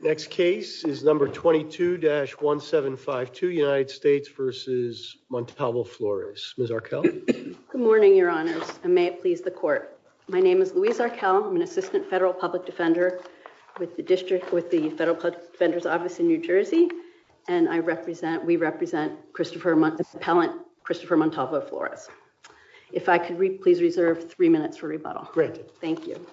Next case is number 22-1752, United States v. Montalvo-Flores. Ms. Arkell? Good morning, your honors, and may it please the court. My name is Louise Arkell. I'm an assistant federal public defender with the district with the Federal Public Defender's Office in New Jersey. And I represent we represent Christopher Montalvo-Flores. If I could please reserve three minutes for rebuttal. Great. Thank you.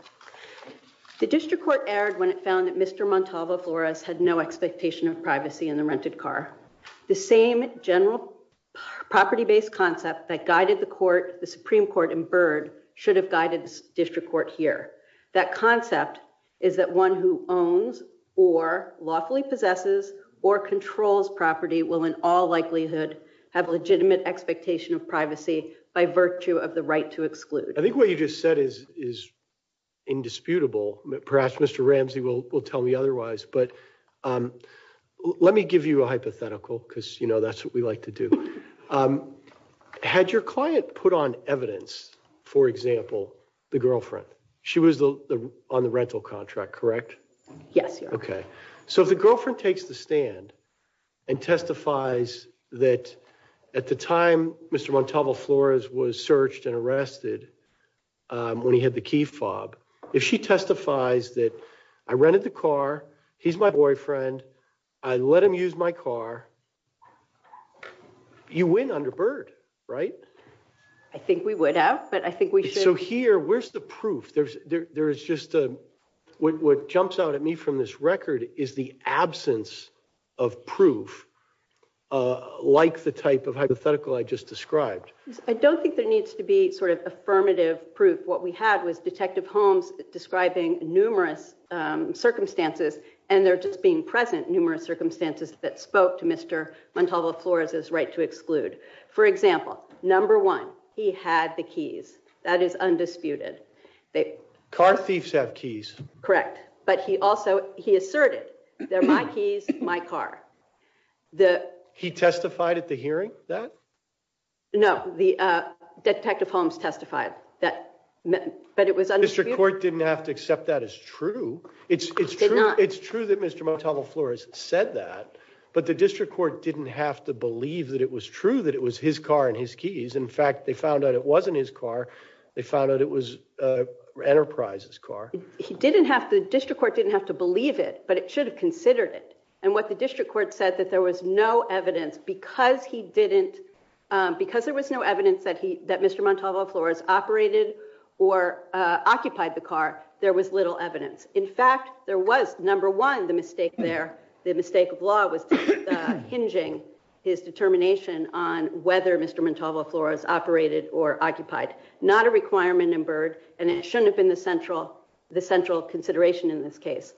The district court erred when it found that Mr. Montalvo-Flores had no expectation of privacy in the rented car. The same general property-based concept that guided the court, the Supreme Court in Byrd, should have guided the district court here. That concept is that one who owns or lawfully possesses or controls property will in all likelihood have legitimate expectation of privacy by virtue of the right to exclude. I think what you just said is is indisputable. Perhaps Mr. Ramsey will will tell me otherwise. But let me give you a hypothetical because, you know, that's what we like to do. Had your client put on evidence, for example, the girlfriend? She was on the rental contract, correct? Yes. OK, so the girlfriend takes the stand and testifies that at the time Mr. Montalvo-Flores was searched and arrested, when he had the key fob, if she testifies that I rented the car, he's my boyfriend, I let him use my car. You win under Byrd, right? I think we would have, but I think we should. So here, where's the proof? There's there is just what jumps out at me from this record is the absence of proof like the type of hypothetical I just described. I don't think there needs to be sort of affirmative proof. What we had was Detective Holmes describing numerous circumstances and they're just being present numerous circumstances that spoke to Mr. Montalvo-Flores' right to exclude. For example, number one, he had the keys. That is undisputed. Car thieves have keys. Correct, but he also he asserted they're my keys, my car. He testified at the hearing that? No, the Detective Holmes testified that, but it was undisputed. District Court didn't have to accept that as true. It's true that Mr. Montalvo-Flores said that, but the District Court didn't have to believe that it was true that it was his car and his keys. In fact, they found out it wasn't his car. They found out it was Enterprise's car. He didn't have to, District Court didn't have to believe it, but it should have considered it. And what the District Court said that there was no evidence because he didn't, because there was no evidence that he, that Mr. Montalvo-Flores operated or occupied the car. There was little evidence. In fact, there was number one, the mistake there, the mistake of law was hinging his determination on whether Mr. Montalvo-Flores operated or occupied. Not a requirement in Byrd and it shouldn't have been the central consideration in this case.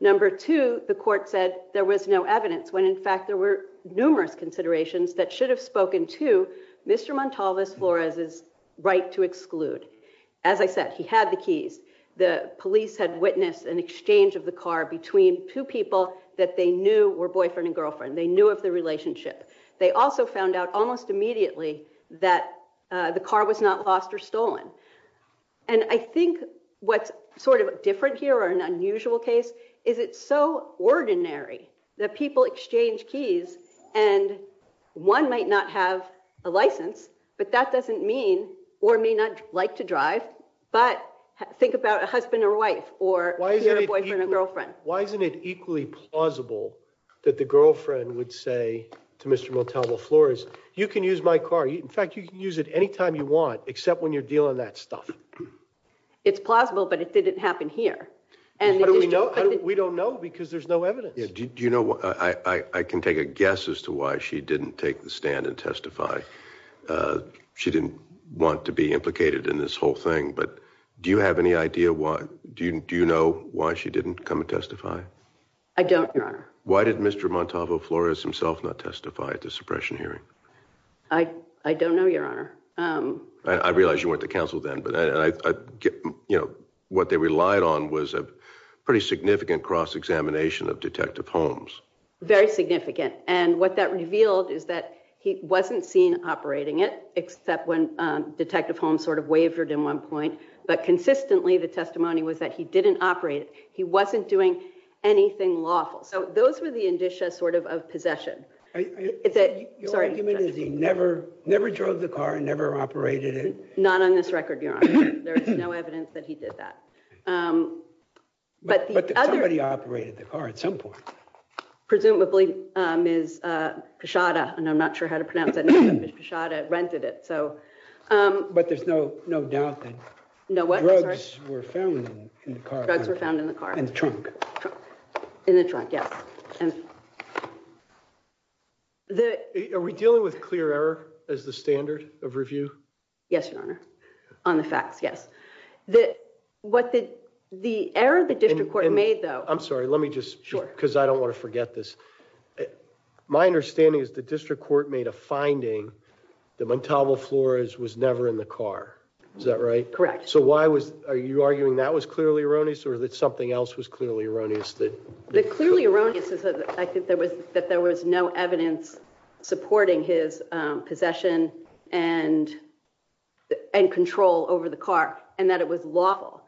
Number two, the court said there was no evidence when in fact there were numerous considerations that should have spoken to Mr. Montalvo-Flores' right to exclude. As I said, he had the keys. The police had witnessed an exchange of the car between two people that they knew were boyfriend and girlfriend. They knew of the relationship. They also found out almost immediately that the car was not lost or stolen. And I think what's sort of different here or an unusual case is it's so ordinary that people exchange keys and one might not have a license, but that doesn't mean or may not like to drive. But think about a husband or wife or boyfriend or girlfriend. Why isn't it equally plausible that the girlfriend would say to Mr. Montalvo-Flores, you can use my car. In fact, you can use it anytime you want except when you're dealing that stuff. It's plausible, but it didn't happen here. How do we know? We don't know because there's no evidence. Do you know, I can take a guess as to why she didn't take the stand and testify. She didn't want to be implicated in this whole thing, but do you have any idea why? Do you know why she didn't come and testify? I don't, Your Honor. Why did Mr. Montalvo-Flores himself not testify at the suppression hearing? I don't know, Your Honor. I realize you went to counsel then, but what they relied on was a pretty significant cross-examination of Detective Holmes. Very significant. And what that revealed is that he wasn't seen operating it except when Detective Holmes sort of wavered in one point. But consistently, the testimony was that he didn't operate. He wasn't doing anything lawful. So those were the indicia sort of of possession. Your argument is he never drove the car and never operated it? Not on this record, Your Honor. There is no evidence that he did that. But somebody operated the car at some point. Presumably, Ms. Pichotta, and I'm not sure how to pronounce that name, but Ms. Pichotta rented it, so. But there's no doubt that drugs were found in the car. Drugs were found in the car. In the trunk. In the trunk, yes. Are we dealing with clear error as the standard of review? Yes, Your Honor. On the facts, yes. The error the District Court made, though. I'm sorry. Let me just, because I don't want to forget this. My understanding is the District Court made a finding that Montalvo Flores was never in the car. Is that right? Correct. So why was, are you arguing that was clearly erroneous or that something else was clearly erroneous? The clearly erroneous is that I think there was no evidence supporting his possession and control over the car and that it was lawful.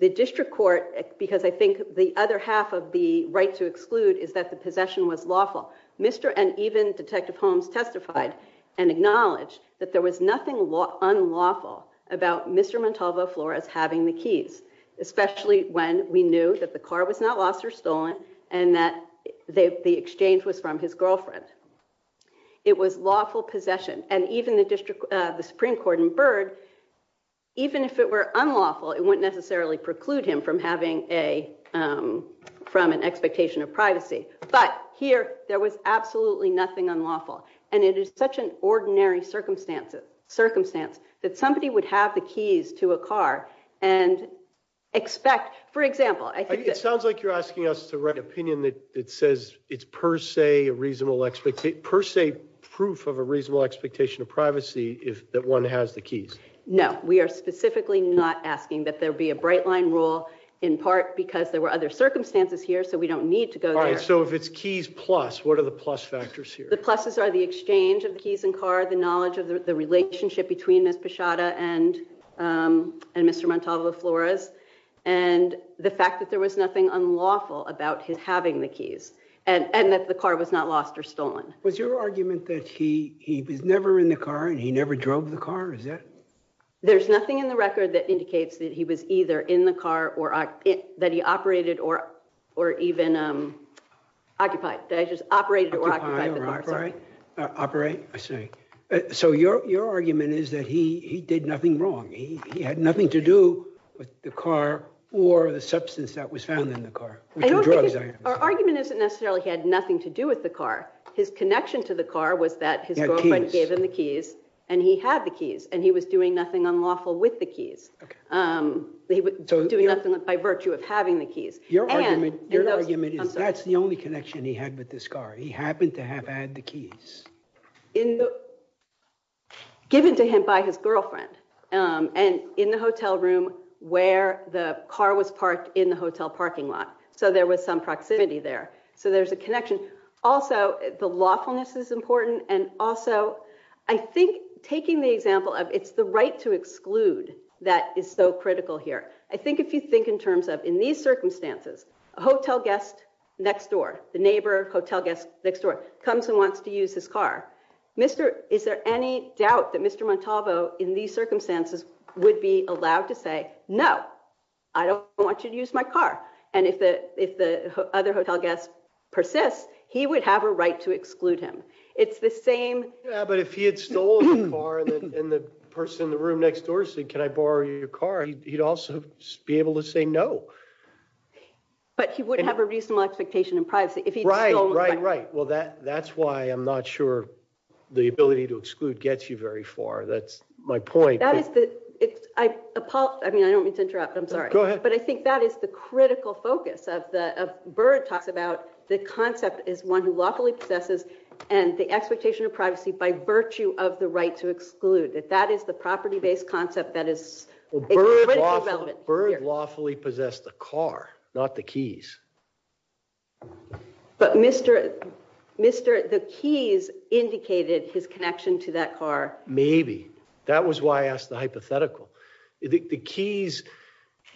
The District Court, because I think the other half of the right to exclude is that the possession was lawful. Mr. and even Detective Holmes testified and acknowledged that there was nothing unlawful about Mr. Montalvo Flores having the keys, especially when we knew that the car was not lost or stolen and that the exchange was from his girlfriend. It was lawful possession and even the District, the Supreme Court in Byrd, even if it were unlawful, it wouldn't necessarily preclude him from having a, from an expectation of privacy. But here there was absolutely nothing unlawful and it is such an ordinary circumstances, circumstance that somebody would have the keys to a car and expect, for example, I think it sounds like you're asking us the right opinion that it says it's per se a reasonable expectation per se proof of a reasonable expectation of privacy. If that one has the keys. No, we are specifically not asking that there be a bright line rule in part because there were other circumstances here. So we don't need to go there. So if it's keys plus, what are the plus factors here? The pluses are the exchange of the keys and car, the knowledge of the relationship between this Pashada and and Mr. Montalvo Flores and the fact that there was nothing unlawful about his having the keys and that the car was not lost or stolen. Was your argument that he was never in the car and he never drove the car? Is that? There's nothing in the record that indicates that he was either in the car or that he operated or even occupied. That he just operated or occupied the car. Operate, I see. So your argument is that he did nothing wrong. He had nothing to do with the car or the substance that was found in the car. Our argument isn't necessarily he had nothing to do with the car. His connection to the car was that his girlfriend gave him the keys and he had the keys and he was doing nothing unlawful with the keys. He was doing nothing by virtue of having the keys. Your argument is that's the only connection he had with this car. He happened to have had the keys. Given to him by his girlfriend and in the hotel room where the car was parked in the hotel parking lot. So there was some proximity there. So there's a connection. Also, the lawfulness is important. And also, I think taking the example of it's the right to exclude that is so critical here. I think if you think in terms of in these circumstances a hotel guest next door, the neighbor hotel guest next door comes and wants to use his car. Mr. Is there any doubt that Mr. Montalvo in these circumstances would be allowed to say no, I don't want you to use my car. And if the if the other hotel guest persists, he would have a right to exclude him. It's the same. But if he had stolen the car and the person in the room next door said, can I borrow your car? He'd also be able to say no. But he wouldn't have a reasonable expectation in privacy if he'd stolen the car. Right, right, right. Well that that's why I'm not sure the ability to exclude gets you very far. That's my point. That is the I mean, I don't mean to interrupt. I'm sorry, but I think that is the critical focus of the bird talks about the concept is one who lawfully possesses and the expectation of privacy by virtue of the right to exclude that that is the property-based concept that is relevant. Bird lawfully possessed the car, not the keys. But Mr. Mr. The keys indicated his connection to that car. Maybe. That was why I asked the hypothetical the keys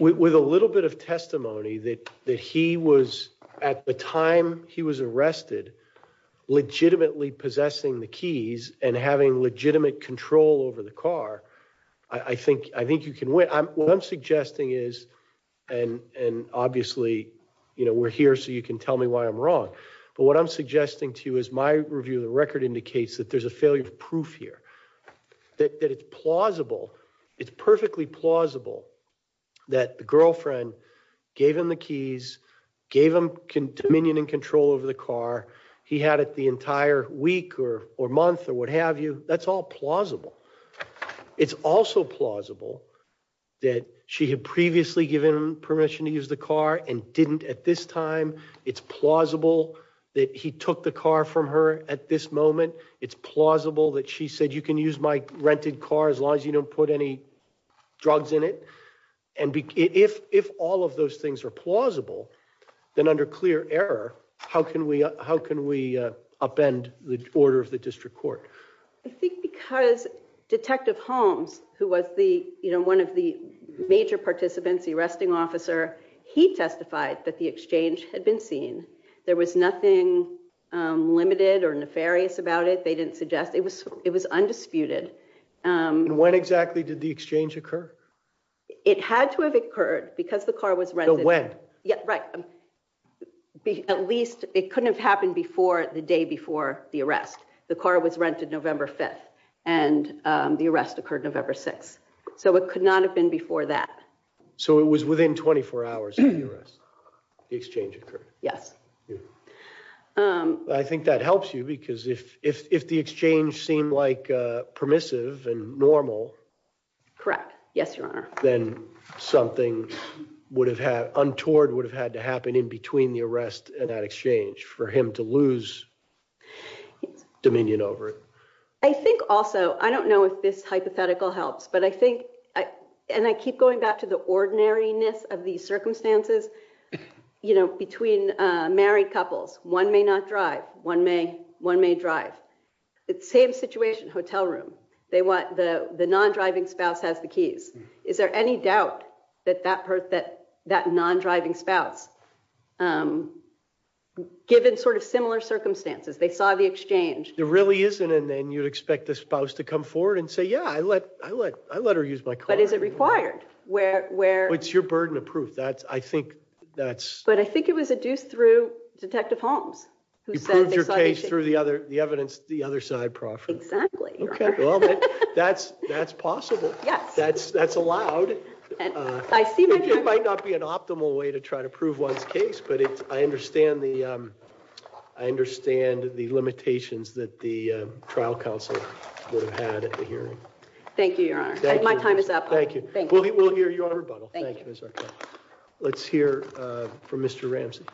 with a little bit of testimony that that he was at the time. He was arrested legitimately possessing the keys and having legitimate control over the car. I think I think you can win. I'm what I'm suggesting is and and obviously, you know, we're here so you can tell me why I'm wrong. But what I'm suggesting to you is my review. The record indicates that there's a failure of proof here that it's plausible. It's perfectly plausible that the girlfriend gave him the keys gave him Dominion and control over the car. He had it the entire week or or month or what have you. That's all plausible. It's also plausible that she had previously given permission to use the car and didn't at this time. It's plausible that he took the car from her at this moment. It's plausible that she said you can use my rented car as long as you don't put any drugs in it and be if if all of those things are plausible then under clear error. How can we how can we upend the order of the district court? I think because Detective Holmes who was the you know, one of the major participants arresting officer he testified that the exchange had been seen there was nothing limited or nefarious about it. They didn't suggest it was it was undisputed when exactly did the exchange occur? It had to have occurred because the car was rented when yeah, right be at least it couldn't have happened before the day before the arrest. The car was rented November 5th and the arrest occurred November 6. So it could not have been before that. So it was within 24 hours. The exchange occurred. Yes. Yeah, I think that helps you because if the exchange seemed like permissive and normal correct. Yes, your Honor then something would have had untoward would have had to happen in between the arrest and that exchange for him to lose Dominion over it. I think also I don't know if this hypothetical helps but I think I and I keep going back to the ordinariness of these circumstances, you know between married couples one may not drive one may one may drive. It's same situation hotel room. They want the the non-driving spouse has the keys. Is there any doubt that that hurt that that non-driving spouse? Given sort of similar circumstances. They saw the exchange there really isn't and then you'd expect the spouse to come forward and say yeah, I let I let I let her use my car but is it required where it's your burden of I think that's but I think it was a deuce through detective Holmes who says your case through the other the evidence the other side profit exactly. Okay. Well, that's that's possible. Yes, that's that's allowed and I see my job might not be an optimal way to try to prove one's case but it's I understand the I understand the limitations that the trial counsel would have had at the hearing. Thank you, Your Honor. My time is up. Thank you. Thank you. We'll hear you on rebuttal. Thank you. Let's hear from Mr. Ramsey.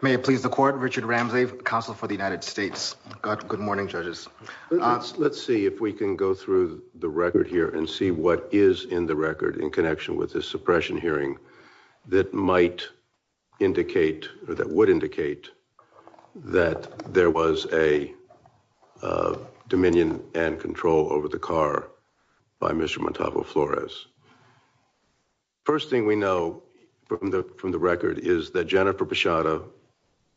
May it please the court Richard Ramsey counsel for the United States got good morning judges. Let's see if we can go through the record here and see what is in the record in connection with this suppression hearing that might indicate that would indicate that there was a Dominion and control over the car by Mr. Montalvo Flores. First thing we know from the from the record is that Jennifer Pashada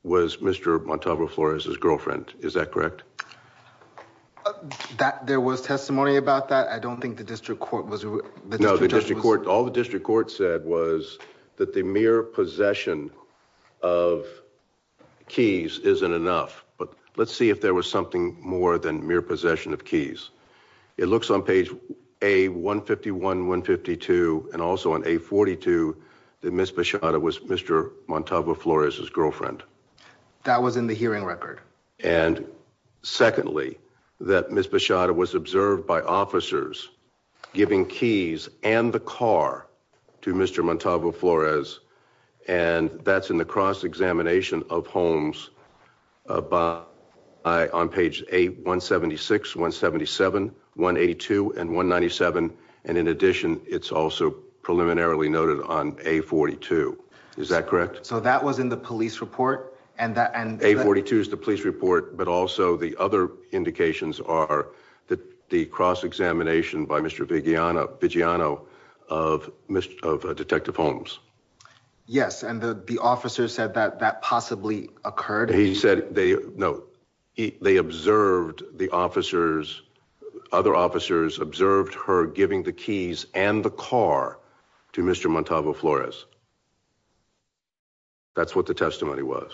was Mr. Montalvo Flores his girlfriend. Is that correct? That there was testimony about that. I don't think the district court was no the district court all the district court said was that the mere possession of keys isn't enough but let's see if there was something more than mere possession of keys. It looks on page a 151 152 and also on a 42 the Miss Pashada was Mr. Montalvo Flores his girlfriend that was in the hearing record and secondly that Miss Pashada was observed by officers giving keys and the car to Mr. Montalvo Flores and that's in the cross-examination of homes by on page a 176 177 182 and 197 and in addition. It's also preliminarily noted on a 42. Is that correct? So that was in the police report and that and a 42 is the police report but also the other indications are that the cross-examination by Mr. Vigiano Vigiano of Detective Holmes. Yes, and the officer said that that possibly occurred. He said they know they observed the officers other officers observed her giving the keys and the car to Mr. Montalvo Flores. That's what the testimony was.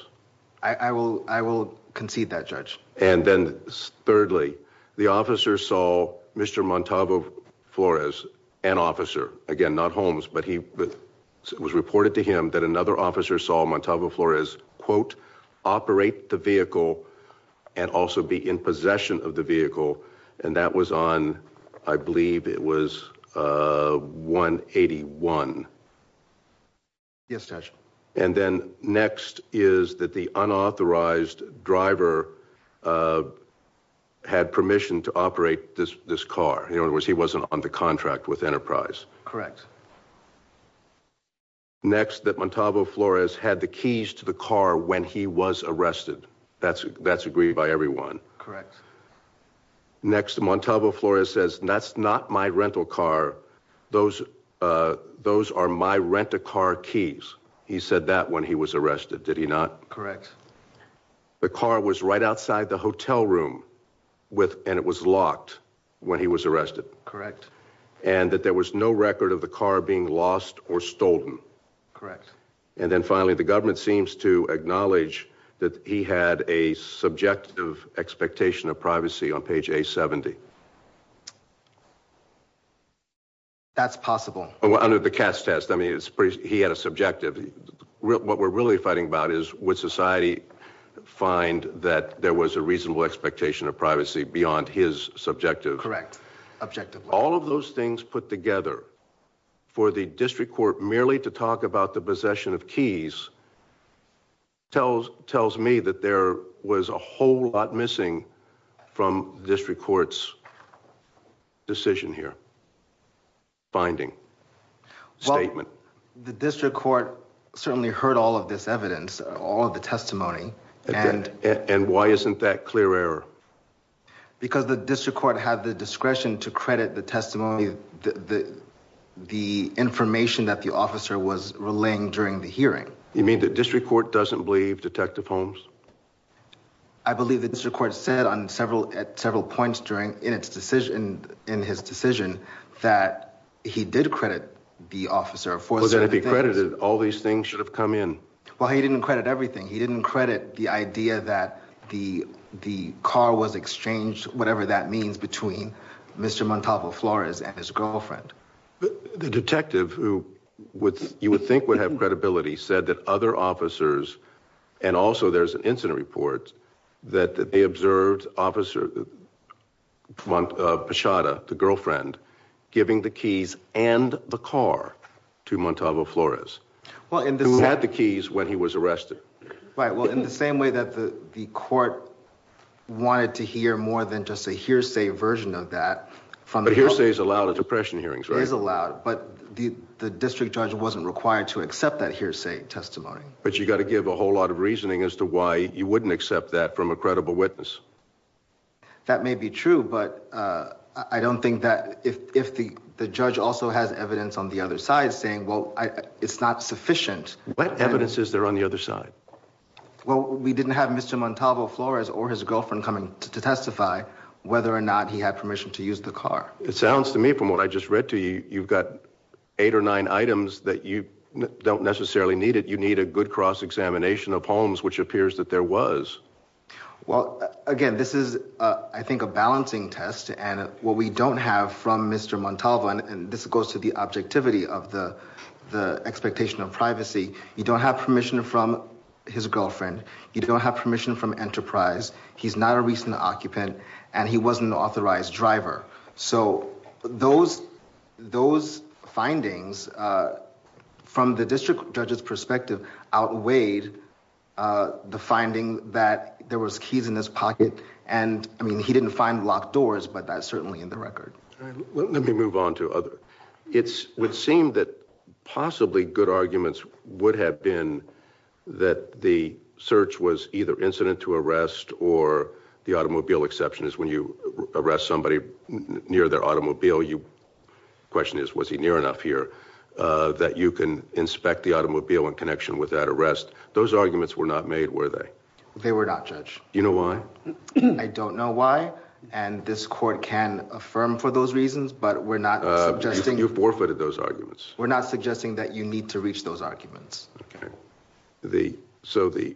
I will I will concede that judge and then thirdly the officer saw Mr. Montalvo Flores an officer again, not Holmes, but he was reported to him that another officer saw Montalvo Flores quote operate the vehicle and also be in possession of the vehicle and that was on I believe it was 181. Yes, touch and then next is that the unauthorized driver had permission to operate this this car. In other words, he wasn't on the contract with Enterprise correct. Next that Montalvo Flores had the keys to the car when he was arrested. That's that's agreed by everyone correct. Next Montalvo Flores says that's not my rental car. Those those are my rent a car keys. He said that when he was arrested. Did he not correct? The car was right outside the hotel room with and it was locked when he was arrested correct and that there was no record of the car being lost or stolen correct. And then finally the government seems to acknowledge that he had a subjective expectation of privacy on page a 70. That's possible under the cast test. I mean, it's pretty he had a subjective real what we're really fighting about is what society find that there was a reasonable expectation of privacy beyond his subjective correct objective. All of those things put together for the district court merely to talk about the possession of keys. Tells tells me that there was a whole lot missing from district courts. Decision here. Finding statement, the district court certainly heard all of this evidence all of the testimony and and why isn't that clear error? Because the district court had the discretion to credit the testimony the the information that the officer was relaying during the hearing. You mean the district court doesn't believe Detective Holmes. I believe the district court said on several at several points during in its decision in his decision that he did credit the officer for that if he credited all these things should have come in. Well, he didn't credit everything. He didn't credit the idea that the the car was exchanged. Whatever that means between Mr. Montalvo Flores and his girlfriend. The detective who would you would think would have credibility said that other officers and also there's an incident report that they observed officer. One of Pashada the girlfriend giving the keys and the car to Montalvo Flores. Well in this had the keys when he was arrested, right? Well in the same way that the the court wanted to hear more than just a hearsay version of that from the hearsay is allowed at depression hearings is allowed but the district judge wasn't required to accept that hearsay testimony, but you got to give a whole lot of reasoning as to why you wouldn't accept that from a credible witness. That may be true, but I don't think that if the judge also has evidence on the other side saying well, it's not sufficient. What evidence is there on the other side? Well, we didn't have Mr. Montalvo Flores or his girlfriend coming to testify whether or not he had permission to use the car. It sounds to me from what I just read to you. You've got eight or nine items that you don't necessarily need it. You need a good cross-examination of homes, which appears that there was well again, this is I think a balancing test and what we don't have from Mr. Montalvo and this goes to the objectivity of the expectation of privacy. You don't have permission from his girlfriend. You don't have permission from Enterprise. He's not a recent occupant and he wasn't an authorized driver. So those those findings from the district judge's perspective outweighed the finding that there was keys in his pocket and I mean he didn't find locked doors, but that's certainly in the record. Let me move on to other it's would seem that possibly good arguments would have been that the search was either incident to arrest or the automobile exception is when you arrest somebody near their automobile. You question is was he near enough here that you can inspect the automobile in connection with that arrest. Those arguments were not made were they they were not judge, you know, why I don't know why and this court can affirm for those reasons, but we're not suggesting you forfeited those arguments. We're not suggesting that you need to reach those arguments. Okay, the so the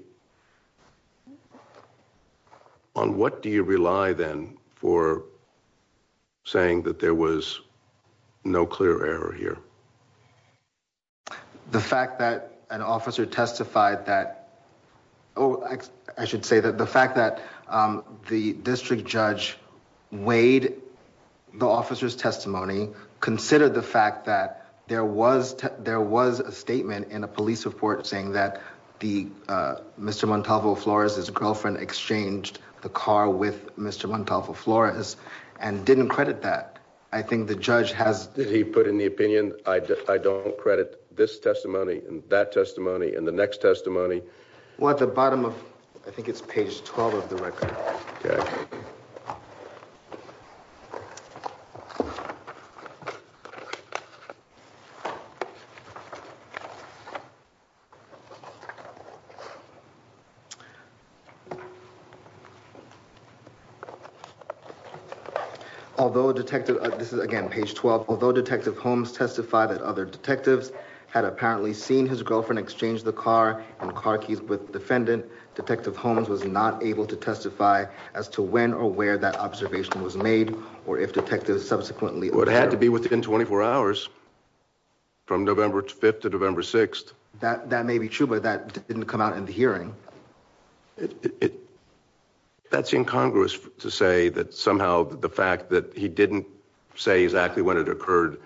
on what do you rely then for saying that there was no clear error here? The fact that an officer testified that oh, I should say that the fact that the district judge weighed the officers testimony considered the fact that there was there was a statement in a police report saying that the Mr. Montalvo Flores is a girlfriend exchanged the car with Mr. Montalvo Flores and didn't credit that I think the judge has did he put in the opinion? I don't credit this testimony and that testimony and the next testimony what the bottom of I think it's page 12 of the record. Although detective this is again page 12, although detective Holmes testified that other detectives had apparently seen his girlfriend exchange the car and car keys with defendant detective Holmes was not able to testify as to when or where that observation was made or if detectives subsequently would have to be within 24 hours. From November 5th to November 6th that that may be true, but that didn't come out in the hearing. That's in Congress to say that somehow the fact that he didn't say exactly when it occurred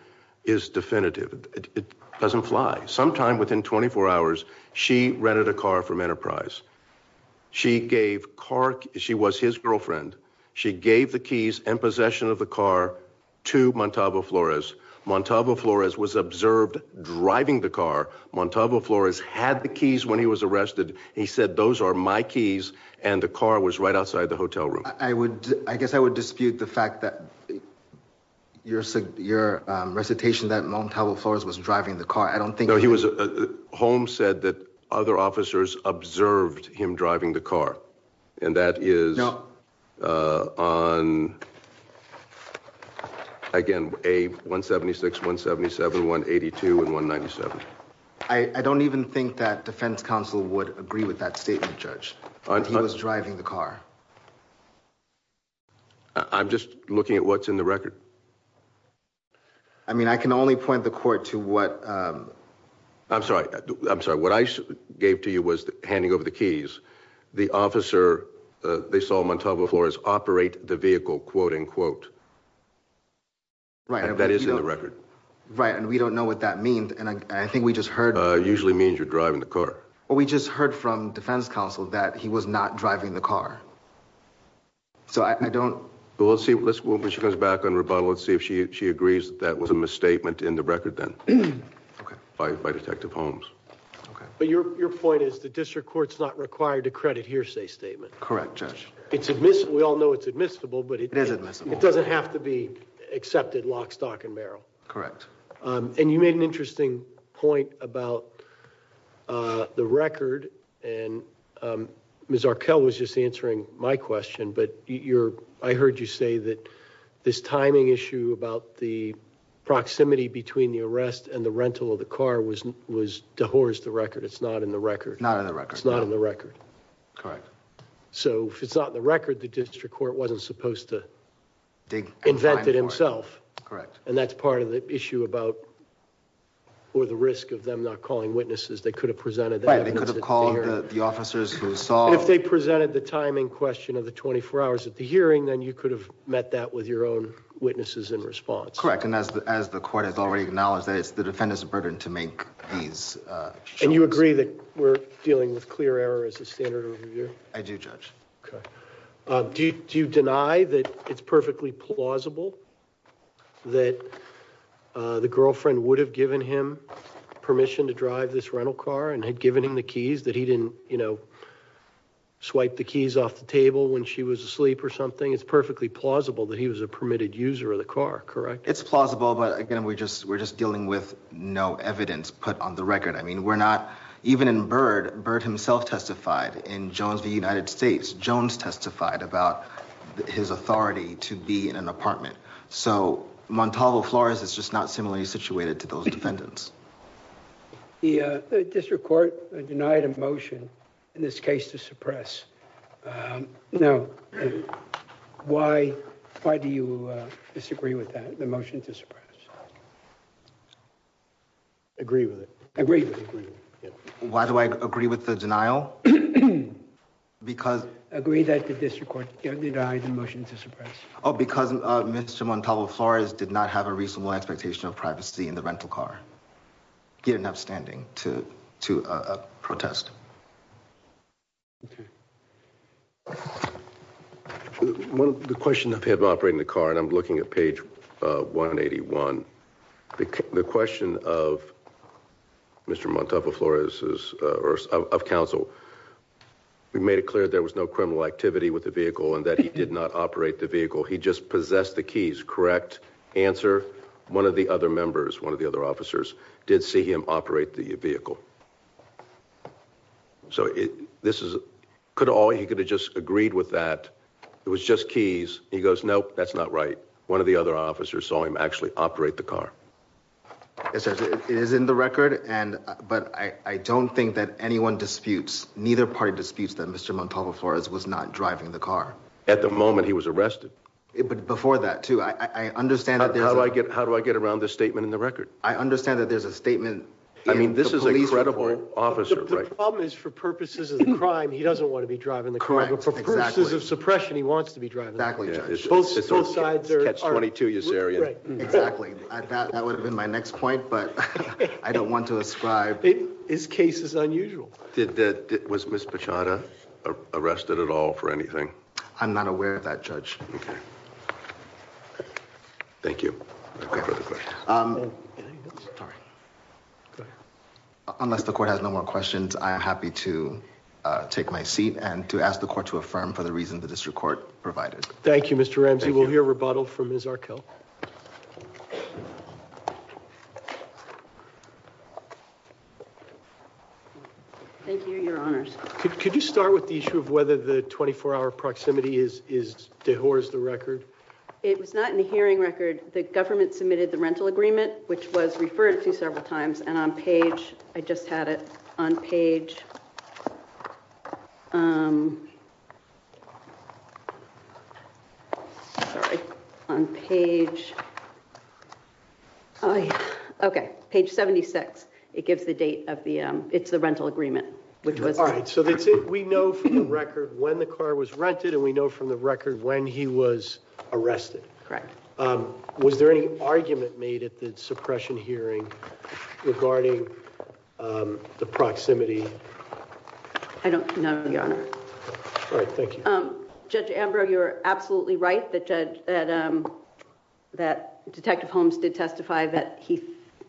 is definitive. It doesn't fly sometime within 24 hours. She rented a car from Enterprise. She gave car. She was his girlfriend. She gave the keys and possession of the car to Montalvo Flores Montalvo Flores was observed driving the car Montalvo Flores had the keys when he was arrested. He said those are my keys and the car was right outside the hotel room. I would I guess I would dispute the fact that your said your recitation that Montalvo Flores was driving the car. I don't think he was a home said that other officers observed him driving the car and that is on. Again a 176 177 182 and 197. I don't even think that defense counsel would agree with that statement judge. He was driving the car. I'm just looking at what's in the record. I mean, I can only point the court to what I'm sorry. I'm sorry. What I gave to you was the handing over the keys the officer they saw Montalvo Flores operate the vehicle quote-unquote. Right that is in the record, right? And we don't know what that means. And I think we just heard usually means you're driving the car. Well, we just heard from defense counsel that he was not driving the car. So I don't let's see. Let's move when she comes back on rebuttal and see if she agrees that was a misstatement in the record then by Detective Holmes. But your point is the district courts not required to credit hearsay statement. Correct judge. It's admissible. We all know it's admissible, but it doesn't have to be accepted lock stock and barrel. Correct. And you made an interesting point about the record and Miss Arkell was just answering my question, but you're I heard you say that this timing issue about the proximity between the arrest and the rental of the car was was to horse the record. It's not in the record. Not in the record. It's not in the record. Correct. So if it's not in the record the district court wasn't supposed to dig invented himself. Correct. And that's part of the issue about or the risk of them not calling witnesses. They could have presented. They could have called the officers who saw if they presented the timing question of the 24 hours at the hearing then you could have met that with your own witnesses in response. Correct. And as the as the court has already acknowledged that it's the defendant's burden to make these and you agree that we're dealing with clear error as a standard over here. I do judge. Okay. Do you deny that it's perfectly plausible that the girlfriend would have given him permission to drive this rental car and had given him the keys that he didn't, you know, swipe the keys off the table when she was asleep or something. It's perfectly plausible that he was a permitted user of the car. Correct. It's plausible. But again, we just we're just dealing with no evidence put on the record. I mean, we're not even in bird bird himself testified in Jones the United States Jones testified about his authority to be in an apartment. So Montalvo Flores is just not similarly situated to those defendants. Yeah, the district court denied a motion in this case to suppress know why why do you disagree with that the motion to suppress? Agree with it. I agree. Why do I agree with the denial? Because I agree that the district court denied the motion to suppress. Oh because Mr. Montalvo Flores did not have a reasonable expectation of privacy in the rental car. Get enough standing to to protest. Well, the question of him operating the car and I'm looking at page 181 the question of Mr. Montalvo Flores is of Council. We made it clear. There was no criminal activity with the vehicle and that he did not operate the vehicle. He just possessed the keys correct answer one of the other members one of the other officers did see him operate the vehicle. So it this is could all you could have just agreed with that. It was just keys. He goes. Nope, that's not right. One of the other officers saw him actually operate the car. It says it is in the record and but I don't think that anyone disputes neither party disputes that Mr. Montalvo Flores was not driving the car at the moment. He was arrested it but before that too, I understand how do I get how do I get around this statement in the record? I understand that there's a statement. I mean, this is a credible officer. The problem is for purposes of the crime. He doesn't want to be driving the car for purposes of suppression. He wants to be driving back. We judge both sides are 22 years area. Exactly. I thought that would have been my next point but I don't want to ascribe it is cases unusual did that was Miss Pachetta arrested at all for anything. I'm not aware of that judge. Okay. Thank you. Unless the court has no more questions. I am happy to take my seat and to ask the court to affirm for the reason the district court provided. Thank you. Mr. Ramsey will hear rebuttal from his Arkell. Thank you. Your honors. Could you start with the issue of whether the 24-hour proximity is is the horse the record? It was not in the hearing record. The government submitted the rental agreement, which was referred to several times and on page. I just had it on page. On page. Okay, page 76. It gives the date of the it's the rental agreement, which was all right. So that's it. We know from the record when the car was rented and we know from the record when he was arrested. Correct. Was there any argument made at the suppression hearing regarding the proximity? I don't know the honor. All right. Thank you. Judge Ambrose. You're absolutely right that judge that that detective Holmes did testify that he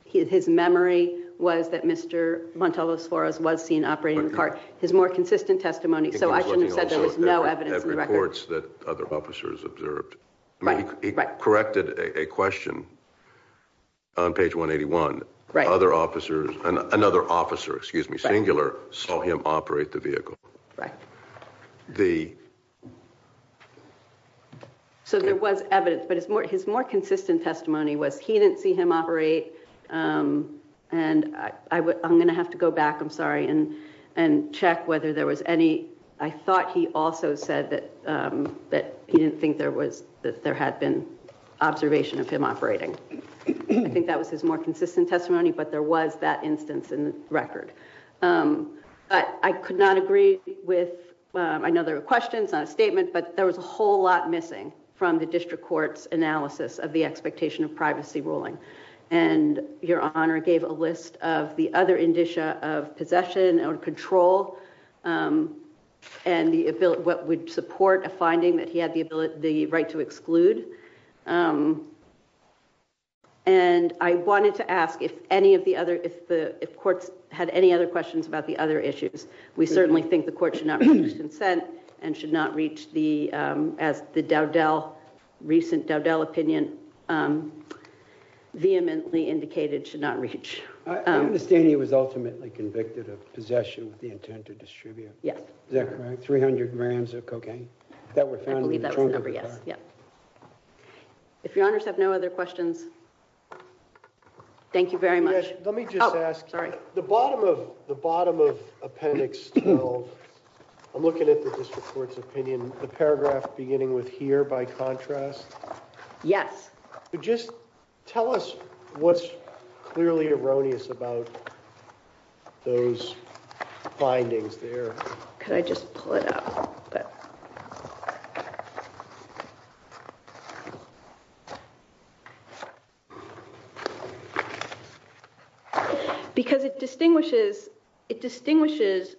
his memory was that Mr. Montalvo Suarez was seen operating cart his more consistent testimony. So I shouldn't have said there was no evidence in the evidence that other officers observed corrected a question on page 181 other officers and another officer, excuse me, singular saw him operate the vehicle, right? The so there was evidence but it's more his more consistent testimony was he didn't see him operate and I would I'm going to have to go back. I'm sorry and and check whether there was any I thought he also said that that he didn't think there was that there had been observation of him operating. I think that was his more consistent testimony, but there was that instance in the record, but I could not agree with another questions on a statement, but there was a whole lot missing from the district courts analysis of the expectation of privacy ruling and your honor gave a list of the other what would support a finding that he had the ability the right to exclude. And I wanted to ask if any of the other if the courts had any other questions about the other issues. We certainly think the court should not be consent and should not reach the as the Dow Dell recent Dow Dell opinion. Vehemently indicated should not reach the stadium was ultimately convicted of possession with the intent to distribute. Yes, that's right. 300 grams of cocaine that were found in the number. Yes. Yep. If your honors have no other questions. Thank you very much. Let me just ask sorry the bottom of the bottom of appendix 12. I'm looking at the district courts opinion the paragraph beginning with here by contrast. Yes, just tell us what's clearly erroneous about those findings there. Could I just pull it up but because it distinguishes it distinguishes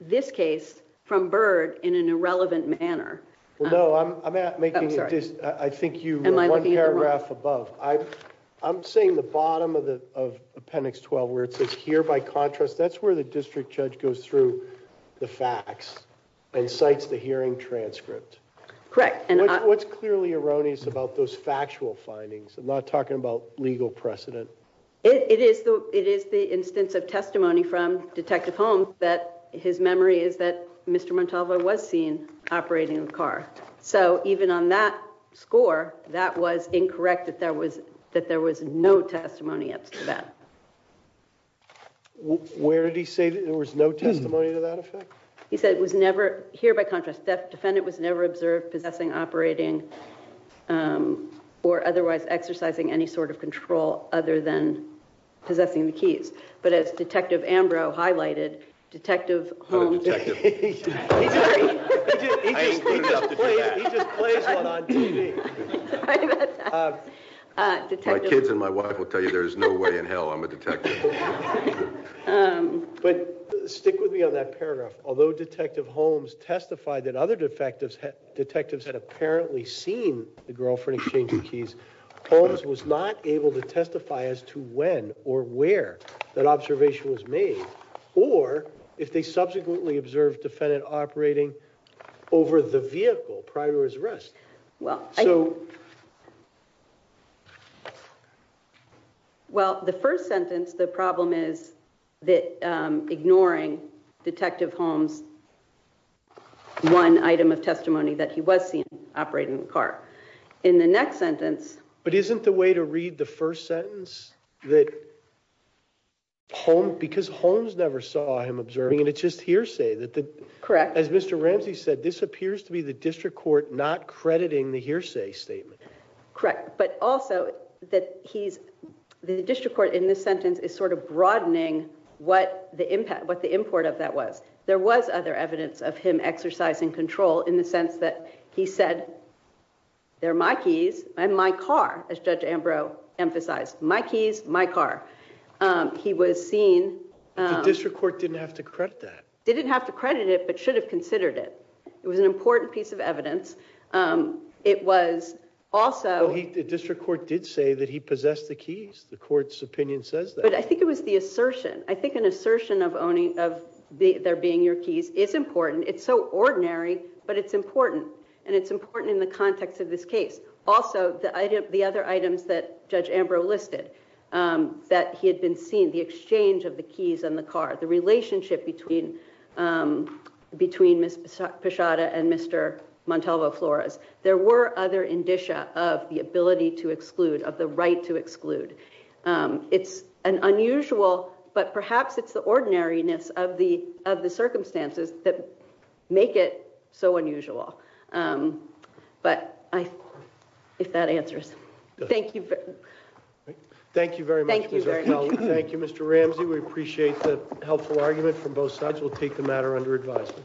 this case from bird in an irrelevant manner. Well, no, I'm not making it just I think you and my paragraph above I I'm saying the bottom of the of appendix 12 where it says here by contrast. That's where the district judge goes through the facts and cites the hearing transcript correct. And what's clearly erroneous about those factual findings and not talking about legal precedent. It is the it is the instance of testimony from Detective Holmes that his memory is that Mr. Montalvo was seen operating a car. So even on that score that was incorrect that there was that there was no testimony up to that. Where did he say that there was no testimony to that effect? He said it was never here by contrast that defendant was never observed possessing operating or otherwise exercising any sort of control other than possessing the keys. But as Detective Ambrose highlighted Detective Holmes detectives and my wife will tell you there's no way in hell. I'm a detective but stick with me on that paragraph. Although Detective Holmes testified that other defectives detectives had apparently seen the girlfriend exchange of keys Holmes was not able to testify as to when or where that observation was made or if they subsequently observed defendant operating over the vehicle prior to his arrest. Well, so well the first sentence the problem is that ignoring Detective Holmes one item of testimony that he was seen operating the car in the next sentence, but isn't the way to read the first sentence that home because Holmes never saw him observing and it's just hearsay that the correct as Mr. District Court not crediting the hearsay statement correct, but also that he's the district court in this sentence is sort of broadening what the impact what the import of that was there was other evidence of him exercising control in the sense that he said they're my keys and my car as Judge Ambrose emphasized my keys my car. He was seen District Court didn't have to credit that didn't have to credit it but should have considered it. It was an important piece of evidence. It was also he did District Court did say that he possessed the keys the courts opinion says that I think it was the assertion. I think an assertion of owning of the there being your keys is important. It's so ordinary, but it's important and it's important in the context of this case. Also the idea of the other items that Judge Ambrose listed that he had been seen the exchange of the keys on the car the relationship between between Miss Pashada and Mr. Montalvo Flores. There were other indicia of the ability to exclude of the right to exclude. It's an unusual but perhaps it's the ordinariness of the of the circumstances that make it so unusual, but I if that answers, thank you. Thank you very much. Thank you very much. Thank you. Mr. Ramsey. We appreciate the helpful argument from both sides. We'll take the matter under advisement.